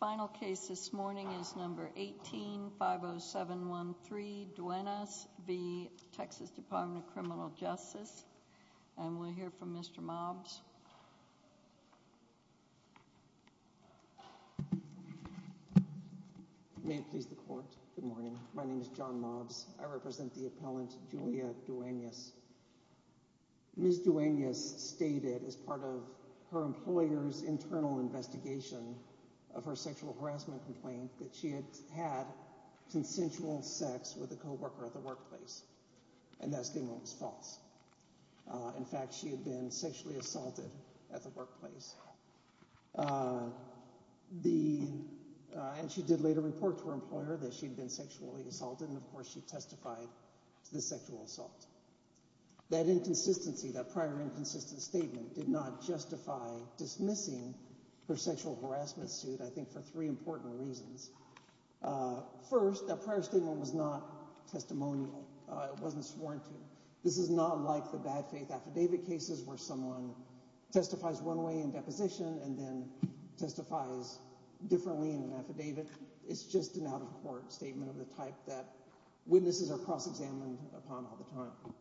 Final case this morning is number 18-50713 Duenas v. Texas Department of Criminal Justice and we'll hear from Mr. Mobs. May it please the court, good morning. My name is John Mobs. I represent the appellant Julia Duenas. Ms. Duenas stated as part of her employer's internal investigation of her sexual harassment complaint that she had had consensual sex with a co-worker at the workplace and that statement was false. In fact, she had been sexually assaulted at the workplace. She did later report to her employer that she had been sexually assaulted and of course she testified to the sexual assault. That inconsistency, that prior inconsistent statement did not justify dismissing her sexual harassment suit I think for three important reasons. First, that prior statement was not testimonial. It wasn't sworn to. This is not like the bad faith affidavit cases where someone testifies one way in deposition and then testifies differently in an affidavit. It's just an out of court statement of the type that witnesses are cross-examined upon all the time.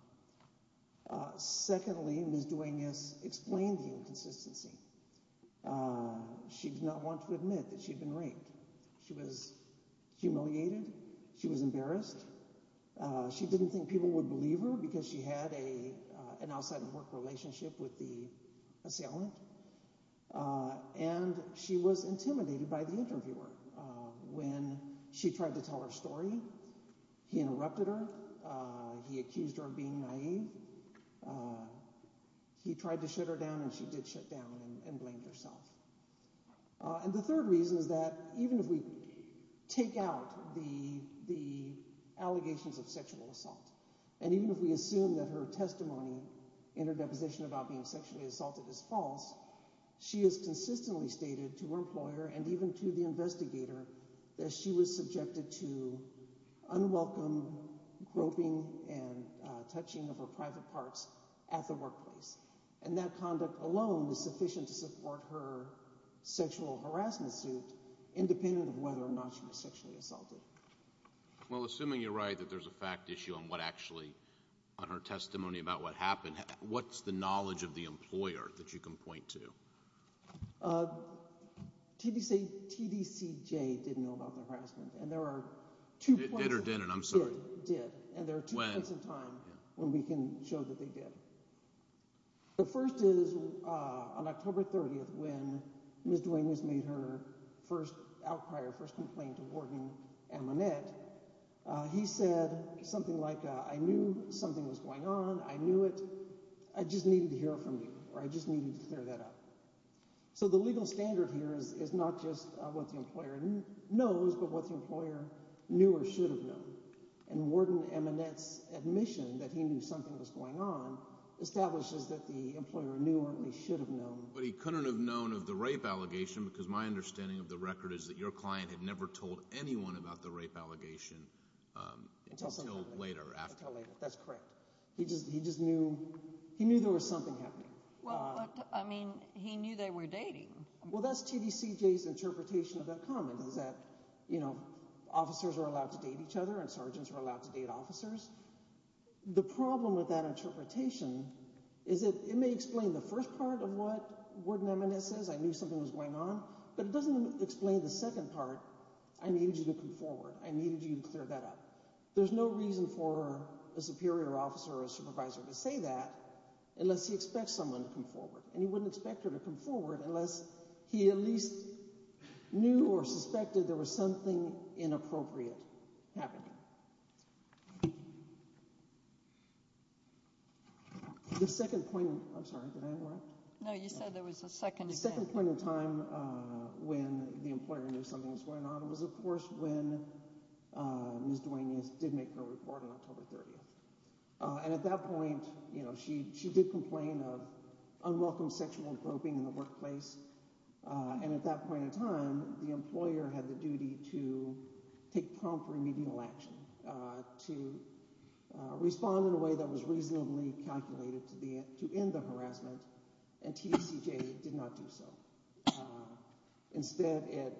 Secondly, Ms. Duenas explained the inconsistency. She did not want to admit that she had been raped. She was humiliated. She was embarrassed. She didn't think people would believe her because she had an outside of work relationship with the assailant and she was intimidated by the interviewer. When she tried to tell her story, he interrupted her. He accused her of being naive. He tried to shut her down and she did shut down and blamed herself. And the third reason is that even if we take out the allegations of sexual assault and even if we assume that her testimony in her deposition about being sexually assaulted is false, she has consistently stated to her employer and even to the investigator that she was subjected to unwelcome groping and touching of her private parts at the workplace. And that conduct alone was sufficient to support her sexual harassment suit, independent of whether or not she was sexually assaulted. Well, assuming you're right that there's a fact issue on what actually, on her testimony about what happened, what's the knowledge of the employer that you can point to? TDCJ didn't know about the harassment and there are two points in time when we can show that they did. The first is on October 30th when Ms. Duenas made her first outcry or first complaint to Warden Amonette. He said something like, I knew something was going on. I knew it. I just needed to hear it from you or I just needed to clear that up. So the legal standard here is not just what the employer knows but what the employer knew or should have known. And Warden Amonette's admission that he knew something was going on establishes that the employer knew or at least should have known. But he couldn't have known of the rape allegation because my understanding of the record is that your client had never told anyone about the rape allegation until later. Until later, that's correct. He just knew, he knew there was something happening. Well, I mean, he knew they were dating. Well, that's TDCJ's interpretation of that comment is that, you know, officers are allowed to date each other and sergeants are allowed to date officers. The problem with that interpretation is that it may explain the first part of what Warden Amonette says, I knew something was going on. But it doesn't explain the second part, I needed you to come forward. I needed you to clear that up. There's no reason for a superior officer or a supervisor to say that unless he expects someone to come forward. And he wouldn't expect her to come forward unless he at least knew or suspected there was something inappropriate happening. The second point, I'm sorry, did I interrupt? No, you said there was a second. The second point in time when the employer knew something was going on was, of course, when Ms. Duenas did make her report on October 30th. And at that point, you know, she did complain of unwelcome sexual groping in the workplace. And at that point in time, the employer had the duty to take prompt remedial action, to respond in a way that was reasonably calculated to end the harassment. And TDCJ did not do so. Instead, it,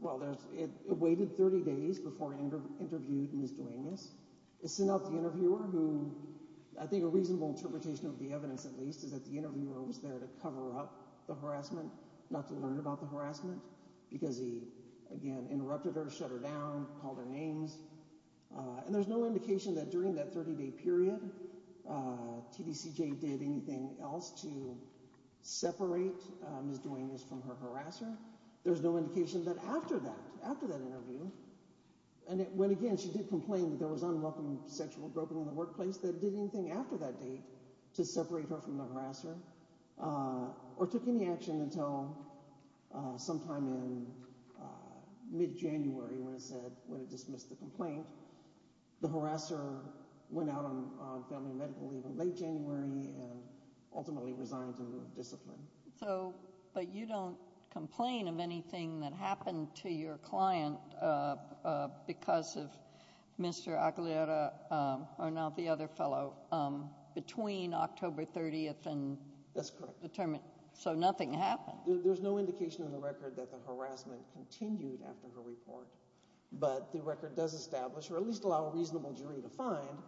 well, it waited 30 days before it interviewed Ms. Duenas. It sent out the interviewer who, I think a reasonable interpretation of the evidence at least, is that the interviewer was there to cover up the harassment, not to learn about the harassment. Because he, again, interrupted her, shut her down, called her names. And there's no indication that during that 30-day period, TDCJ did anything else to separate Ms. Duenas from her harasser. There's no indication that after that, after that interview, and when, again, she did complain that there was unwelcome sexual groping in the workplace, that it did anything after that date to separate her from the harasser, or took any action until sometime in mid-January when it said, when it dismissed the complaint. The harasser went out on family medical leave in late January and ultimately resigned in lieu of discipline. So, but you don't complain of anything that happened to your client because of Mr. Aguilera, or now the other fellow, between October 30th and determined. That's correct. So nothing happened. There's no indication in the record that the harassment continued after her report, but the record does establish, or at least allow a reasonable jury to find,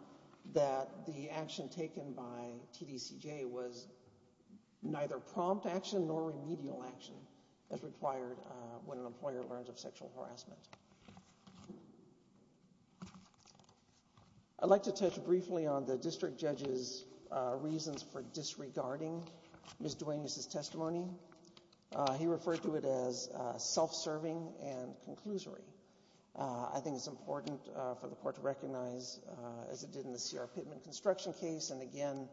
that the action taken by TDCJ was neither prompt action nor remedial action as required when an employer learns of sexual harassment. I'd like to touch briefly on the district judge's reasons for disregarding Ms. Duenas' testimony. He referred to it as self-serving and conclusory. I think it's important for the court to recognize, as it did in the Sierra Pittman construction case, and again,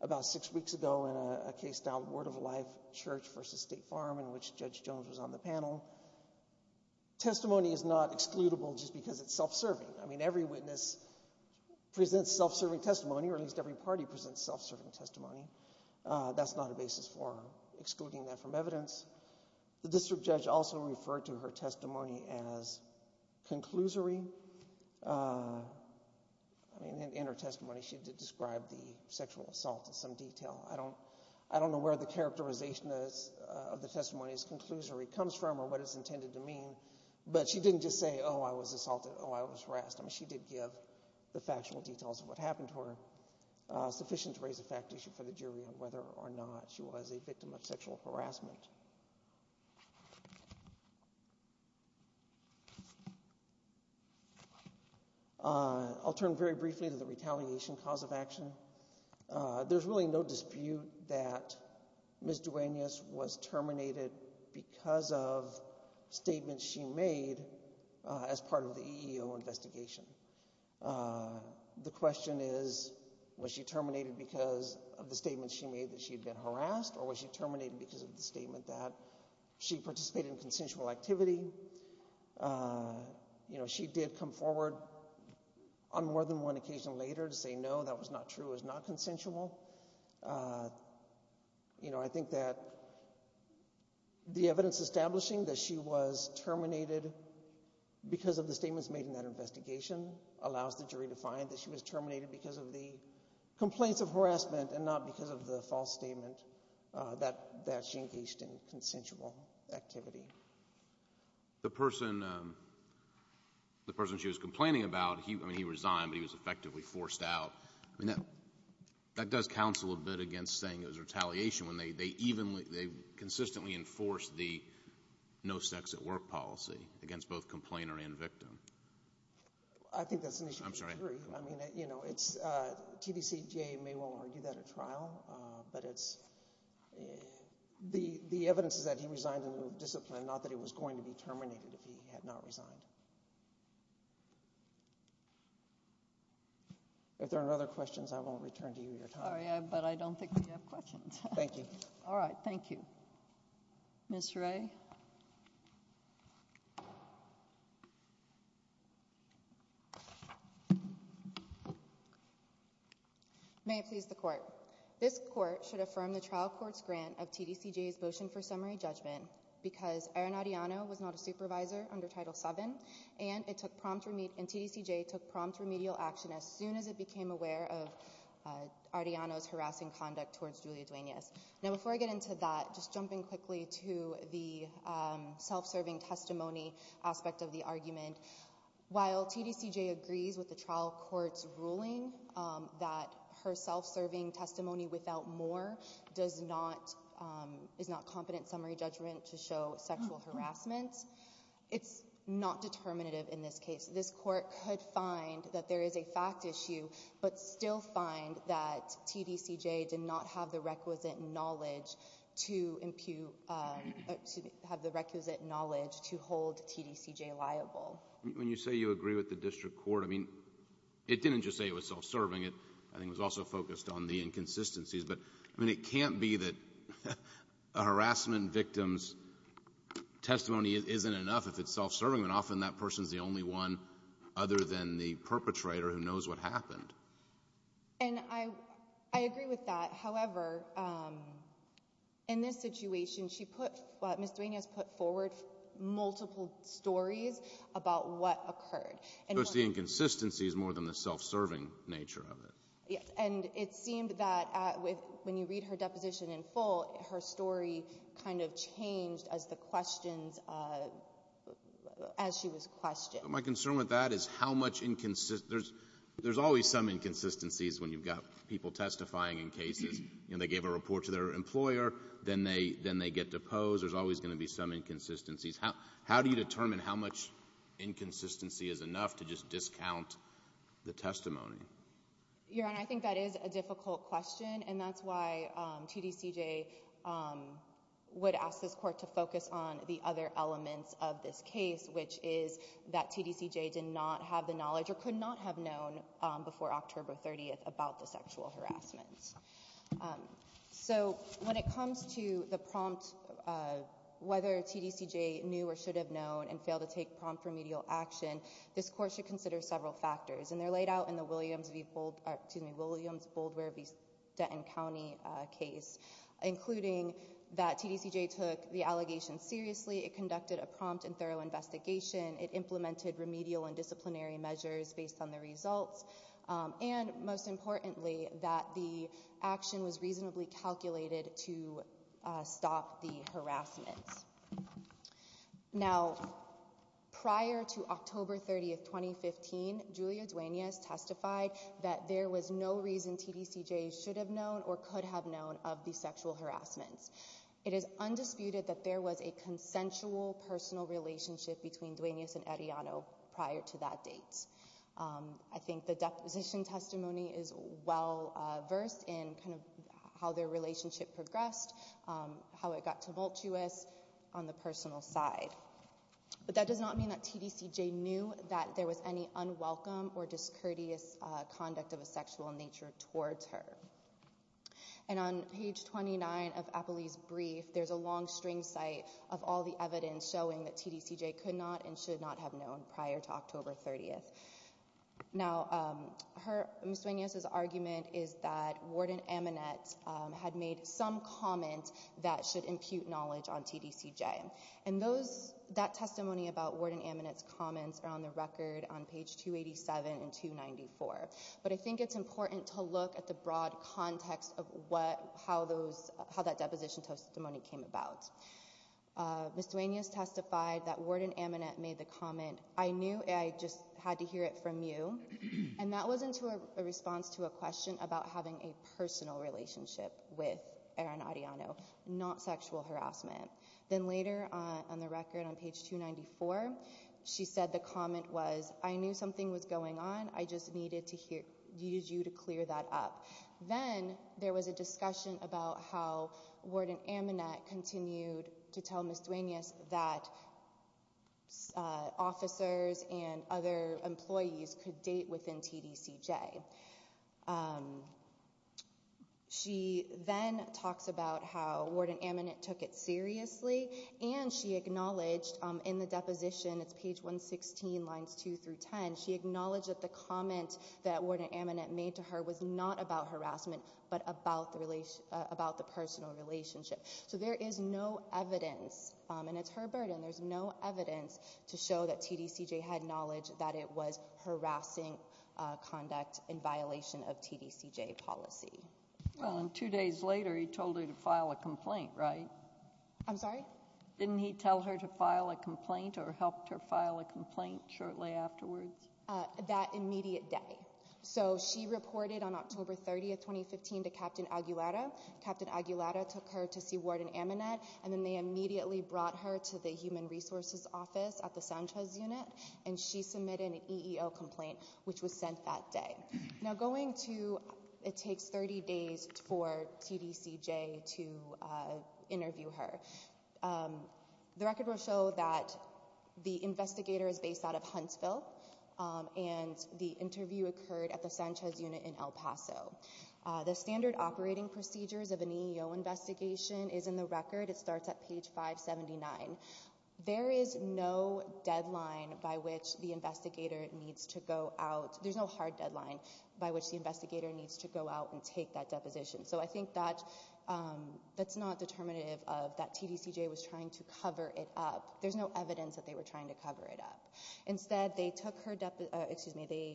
about six weeks ago in a case called Word of Life Church v. State Farm, in which Judge Jones was on the panel. Testimony is not excludable just because it's self-serving. I mean, every witness presents self-serving testimony, or at least every party presents self-serving testimony. That's not a basis for excluding that from evidence. The district judge also referred to her testimony as conclusory. In her testimony, she did describe the sexual assault in some detail. I don't know where the characterization of the testimony as conclusory comes from or what it's intended to mean, but she didn't just say, oh, I was assaulted, oh, I was harassed. I mean, she did give the factual details of what happened to her, sufficient to raise a fact issue for the jury on whether or not she was a victim of sexual harassment. I'll turn very briefly to the retaliation cause of action. There's really no dispute that Ms. Duenas was terminated because of statements she made as part of the EEO investigation. The question is, was she terminated because of the statements she made that she had been harassed, or was she terminated because of the statement that she participated in consensual activity? She did come forward on more than one occasion later to say no, that was not true, it was not consensual. I think that the evidence establishing that she was terminated because of the statements made in that investigation allows the jury to find that she was terminated because of the complaints of harassment and not because of the false statement that she engaged in consensual activity. The person she was complaining about, I mean, he resigned, but he was effectively forced out. I mean, that does counsel a bit against saying it was retaliation when they consistently enforced the no sex at work policy against both complainer and victim. I think that's an issue for the jury. I mean, you know, TVCGA may well argue that at trial, but the evidence is that he resigned in discipline, not that he was going to be terminated if he had not resigned. If there are no other questions, I will return to you your time. Sorry, but I don't think we have questions. Thank you. All right, thank you. Ms. Ray. May it please the court. This court should affirm the trial court's grant of TVCGA's motion for summary judgment because Aaron Arreano was not a supervisor under Title VII, and TVCGA took prompt remedial action as soon as it became aware of Arreano's harassing conduct towards Julia Duenas. Now, before I get into that, just jumping quickly to the self-serving testimony aspect of the argument, while TVCGA agrees with the trial court's ruling that her self-serving testimony without more is not competent summary judgment to show sexual harassment, it's not determinative in this case. This court could find that there is a fact issue but still find that TVCGA did not have the requisite knowledge to impute or to have the requisite knowledge to hold TVCGA liable. When you say you agree with the district court, I mean, it didn't just say it was self-serving. It, I think, was also focused on the inconsistencies. But, I mean, it can't be that a harassment victim's testimony isn't enough if it's self-serving, and often that person's the only one other than the perpetrator who knows what happened. And I agree with that. However, in this situation, she put, Ms. Duenas put forward multiple stories about what occurred. So it's the inconsistencies more than the self-serving nature of it. Yes. And it seemed that when you read her deposition in full, her story kind of changed as the questions, as she was questioned. My concern with that is how much inconsistency. There's always some inconsistencies when you've got people testifying in cases. You know, they gave a report to their employer. Then they get deposed. There's always going to be some inconsistencies. How do you determine how much inconsistency is enough to just discount the testimony? Your Honor, I think that is a difficult question. And that's why TDCJ would ask this Court to focus on the other elements of this case, which is that TDCJ did not have the knowledge or could not have known before October 30th about the sexual harassment. So when it comes to the prompt, whether TDCJ knew or should have known and failed to take prompt remedial action, this Court should consider several factors. And they're laid out in the Williams v. Bold, excuse me, Williams, Boldware v. Denton County case, including that TDCJ took the allegation seriously. It conducted a prompt and thorough investigation. It implemented remedial and disciplinary measures based on the results. And most importantly, that the action was reasonably calculated to stop the harassment. Now, prior to October 30th, 2015, Julia Duenas testified that there was no reason TDCJ should have known or could have known of the sexual harassment. It is undisputed that there was a consensual personal relationship between Duenas and Arellano prior to that date. I think the deposition testimony is well-versed in kind of how their relationship progressed, how it got tumultuous on the personal side. But that does not mean that TDCJ knew that there was any unwelcome or discourteous conduct of a sexual nature towards her. And on page 29 of Appley's brief, there's a long string cite of all the evidence showing that TDCJ could not and should not have known prior to October 30th. Now, Ms. Duenas' argument is that Warden Aminette had made some comment that should impute knowledge on TDCJ. And that testimony about Warden Aminette's comments are on the record on page 287 and 294. But I think it's important to look at the broad context of how that deposition testimony came about. Ms. Duenas testified that Warden Aminette made the comment, I knew, I just had to hear it from you. And that was in response to a question about having a personal relationship with Aaron Arellano, not sexual harassment. Then later on the record on page 294, she said the comment was, I knew something was going on. I just needed you to clear that up. Then there was a discussion about how Warden Aminette continued to tell Ms. Duenas that officers and other employees could date within TDCJ. She then talks about how Warden Aminette took it seriously. And she acknowledged in the deposition, it's page 116, lines 2 through 10, she acknowledged that the comment that Warden Aminette made to her was not about harassment, but about the personal relationship. So there is no evidence, and it's her burden, there's no evidence to show that TDCJ had knowledge that it was harassing conduct in violation of TDCJ policy. Well, and two days later, he told her to file a complaint, right? I'm sorry? Didn't he tell her to file a complaint or helped her file a complaint shortly afterwards? That immediate day. So she reported on October 30, 2015, to Captain Aguilera. Captain Aguilera took her to see Warden Aminette, and then they immediately brought her to the Human Resources Office at the Sanchez Unit, and she submitted an EEO complaint, which was sent that day. Now going to, it takes 30 days for TDCJ to interview her. The record will show that the investigator is based out of Huntsville, and the interview occurred at the Sanchez Unit in El Paso. The standard operating procedures of an EEO investigation is in the record. It starts at page 579. There is no deadline by which the investigator needs to go out. There's no hard deadline by which the investigator needs to go out and take that deposition. So I think that's not determinative of that TDCJ was trying to cover it up. There's no evidence that they were trying to cover it up. Instead, they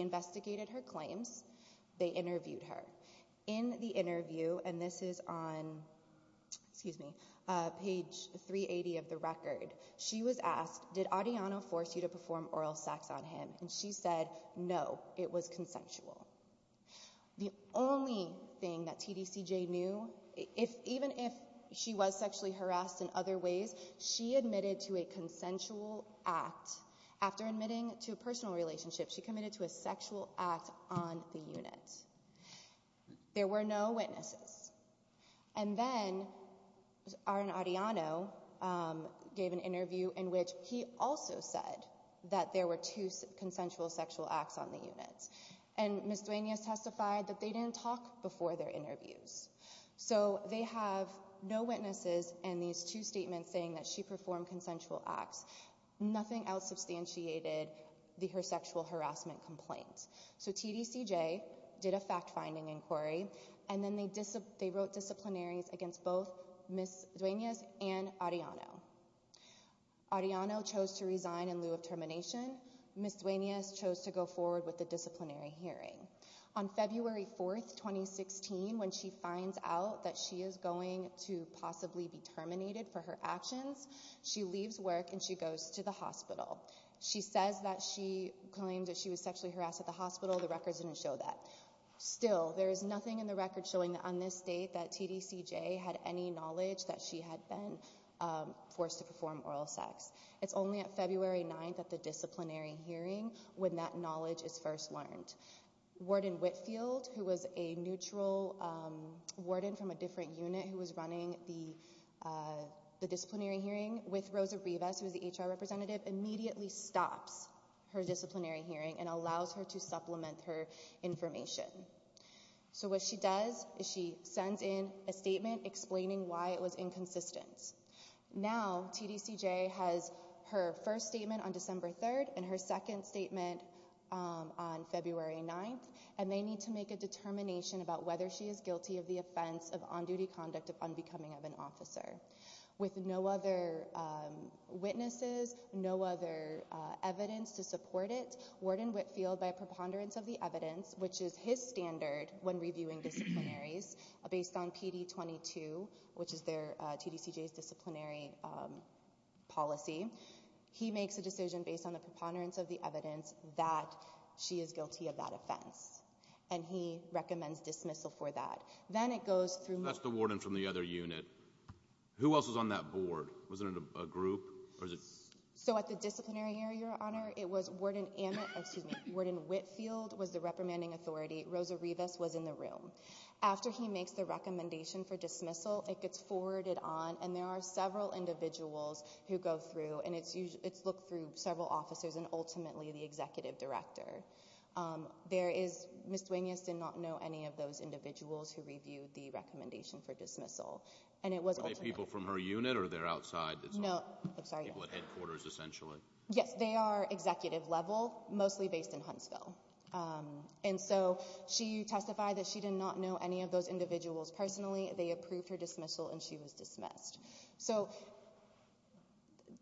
investigated her claims. They interviewed her. In the interview, and this is on, excuse me, page 380 of the record, she was asked, did Adiano force you to perform oral sex on him? And she said, no, it was consensual. The only thing that TDCJ knew, even if she was sexually harassed in other ways, she admitted to a consensual act. After admitting to a personal relationship, she committed to a sexual act on the unit. There were no witnesses. And then Aaron Adiano gave an interview in which he also said that there were two consensual sexual acts on the unit. And Ms. Duenas testified that they didn't talk before their interviews. So they have no witnesses in these two statements saying that she performed consensual acts. Nothing else substantiated her sexual harassment complaint. So TDCJ did a fact-finding inquiry, and then they wrote disciplinaries against both Ms. Duenas and Adiano. Adiano chose to resign in lieu of termination. Ms. Duenas chose to go forward with a disciplinary hearing. On February 4, 2016, when she finds out that she is going to possibly be terminated for her actions, she leaves work and she goes to the hospital. She says that she claims that she was sexually harassed at the hospital. The records didn't show that. Still, there is nothing in the records showing on this date that TDCJ had any knowledge that she had been forced to perform oral sex. It's only on February 9 at the disciplinary hearing when that knowledge is first learned. Warden Whitfield, who was a neutral warden from a different unit who was running the disciplinary hearing with Rosa Rivas, who was the HR representative, immediately stops her disciplinary hearing and allows her to supplement her information. So what she does is she sends in a statement explaining why it was inconsistent. Now, TDCJ has her first statement on December 3 and her second statement on February 9, and they need to make a determination about whether she is guilty of the offense of on-duty conduct of unbecoming of an officer. With no other witnesses, no other evidence to support it, Warden Whitfield, by preponderance of the evidence, which is his standard when reviewing disciplinaries, based on PD22, which is TDCJ's disciplinary policy, he makes a decision based on the preponderance of the evidence that she is guilty of that offense. And he recommends dismissal for that. Then it goes through— That's the warden from the other unit. Who else was on that board? Was it a group? So at the disciplinary hearing, Your Honor, it was Warden Whitfield was the reprimanding authority. Rosa Rivas was in the room. After he makes the recommendation for dismissal, it gets forwarded on, and there are several individuals who go through, and it's looked through several officers and ultimately the executive director. There is—Ms. Duenas did not know any of those individuals who reviewed the recommendation for dismissal. Were they people from her unit or they're outside? No, I'm sorry. People at headquarters, essentially. Yes, they are executive level, mostly based in Huntsville. And so she testified that she did not know any of those individuals personally. They approved her dismissal, and she was dismissed. So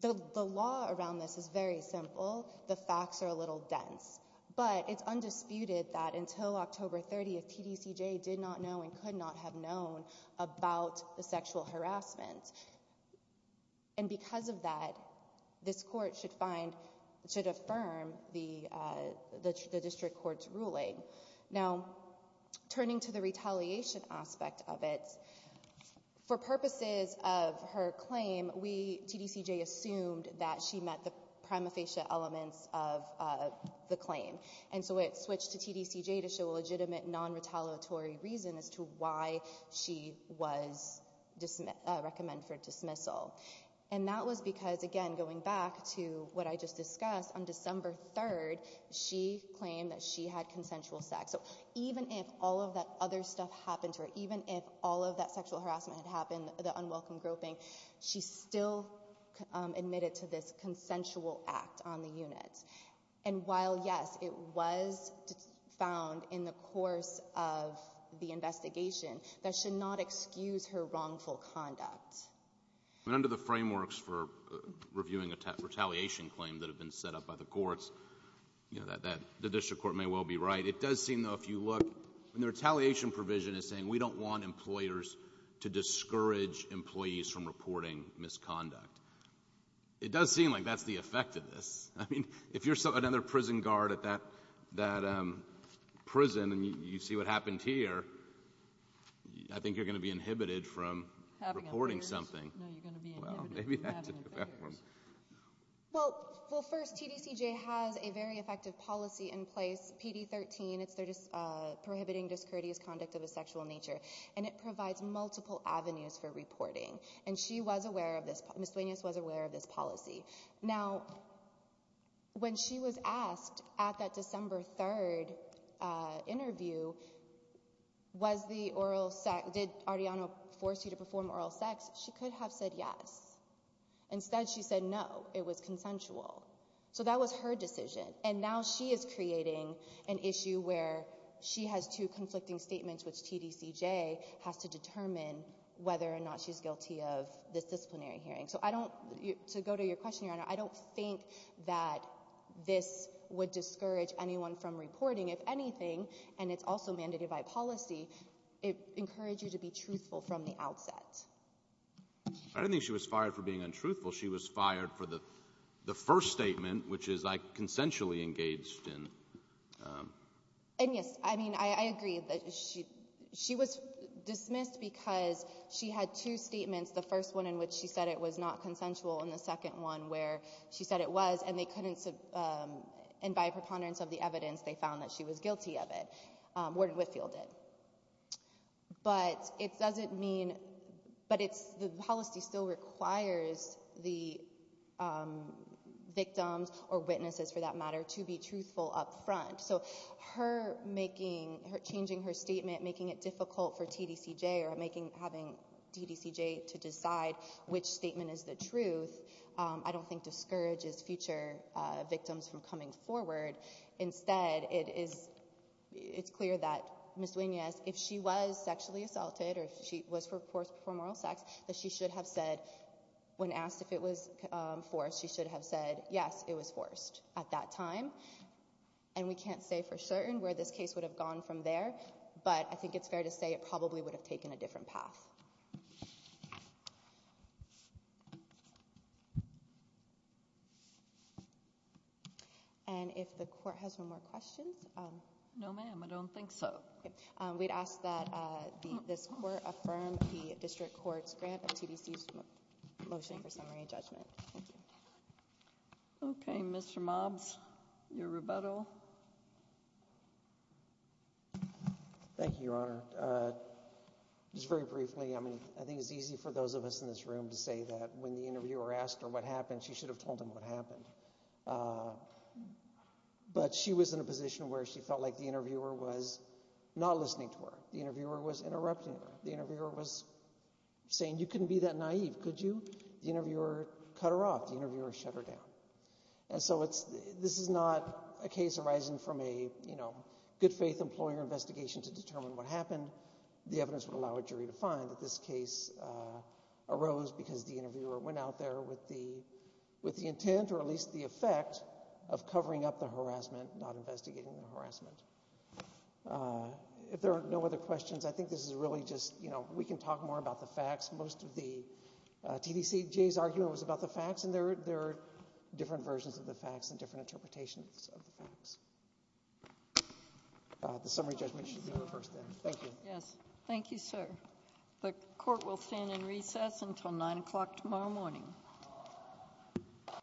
the law around this is very simple. The facts are a little dense. But it's undisputed that until October 30th, TDCJ did not know and could not have known about the sexual harassment. And because of that, this court should find—should affirm the district court's ruling. Now, turning to the retaliation aspect of it, for purposes of her claim, TDCJ assumed that she met the prima facie elements of the claim. And so it switched to TDCJ to show a legitimate non-retaliatory reason as to why she was recommend for dismissal. And that was because, again, going back to what I just discussed, on December 3rd, she claimed that she had consensual sex. So even if all of that other stuff happened to her, even if all of that sexual harassment had happened, the unwelcome groping, she still admitted to this consensual act on the unit. And while, yes, it was found in the course of the investigation, that should not excuse her wrongful conduct. Under the frameworks for reviewing a retaliation claim that have been set up by the courts, the district court may well be right. It does seem, though, if you look—the retaliation provision is saying, we don't want employers to discourage employees from reporting misconduct. It does seem like that's the effect of this. I mean, if you're another prison guard at that prison and you see what happened here, I think you're going to be inhibited from reporting something. No, you're going to be inhibited from having offenders. Well, first, TDCJ has a very effective policy in place. It's PD-13. It's prohibiting discourteous conduct of a sexual nature. And it provides multiple avenues for reporting. And she was aware of this. Ms. Duenas was aware of this policy. Now, when she was asked at that December 3 interview, did Ariano force you to perform oral sex, she could have said yes. Instead, she said no, it was consensual. So that was her decision. And now she is creating an issue where she has two conflicting statements, which TDCJ has to determine whether or not she's guilty of this disciplinary hearing. So I don't—to go to your question, Your Honor, I don't think that this would discourage anyone from reporting. If anything, and it's also mandated by policy, it encourages you to be truthful from the outset. I don't think she was fired for being untruthful. She was fired for the first statement, which is I consensually engaged in. And, yes, I mean, I agree that she was dismissed because she had two statements, the first one in which she said it was not consensual and the second one where she said it was, and they couldn't—and by preponderance of the evidence, they found that she was guilty of it, Warden Whitfield did. But it doesn't mean—but it's—the policy still requires the victims or witnesses, for that matter, to be truthful up front. So her making—changing her statement, making it difficult for TDCJ or making— having TDCJ to decide which statement is the truth, I don't think discourages future victims from coming forward. Instead, it is—it's clear that Ms. Duenas, if she was sexually assaulted or if she was forced to perform oral sex, that she should have said, when asked if it was forced, she should have said, yes, it was forced at that time. And we can't say for certain where this case would have gone from there, but I think it's fair to say it probably would have taken a different path. And if the court has no more questions. No, ma'am, I don't think so. We'd ask that this court affirm the district court's grant of TDC's motion for summary and judgment. Thank you. Okay, Mr. Mobs, your rebuttal. Thank you, Your Honor. Just very briefly, I mean, I think it's easy for those of us in this room to say that when the interviewer asked her what happened, she should have told him what happened. But she was in a position where she felt like the interviewer was not listening to her. The interviewer was interrupting her. The interviewer was saying, you couldn't be that naive, could you? The interviewer cut her off. The interviewer shut her down. And so this is not a case arising from a good faith employer investigation to determine what happened. The evidence would allow a jury to find that this case arose because the interviewer went out there with the intent or at least the effect of covering up the harassment, not investigating the harassment. If there are no other questions, I think this is really just, you know, we can talk more about the facts. Most of the TDCGA's argument was about the facts, and there are different versions of the facts and different interpretations of the facts. The summary judgment should be reversed then. Thank you. Yes. Thank you, sir. The court will stand in recess until 9 o'clock tomorrow morning.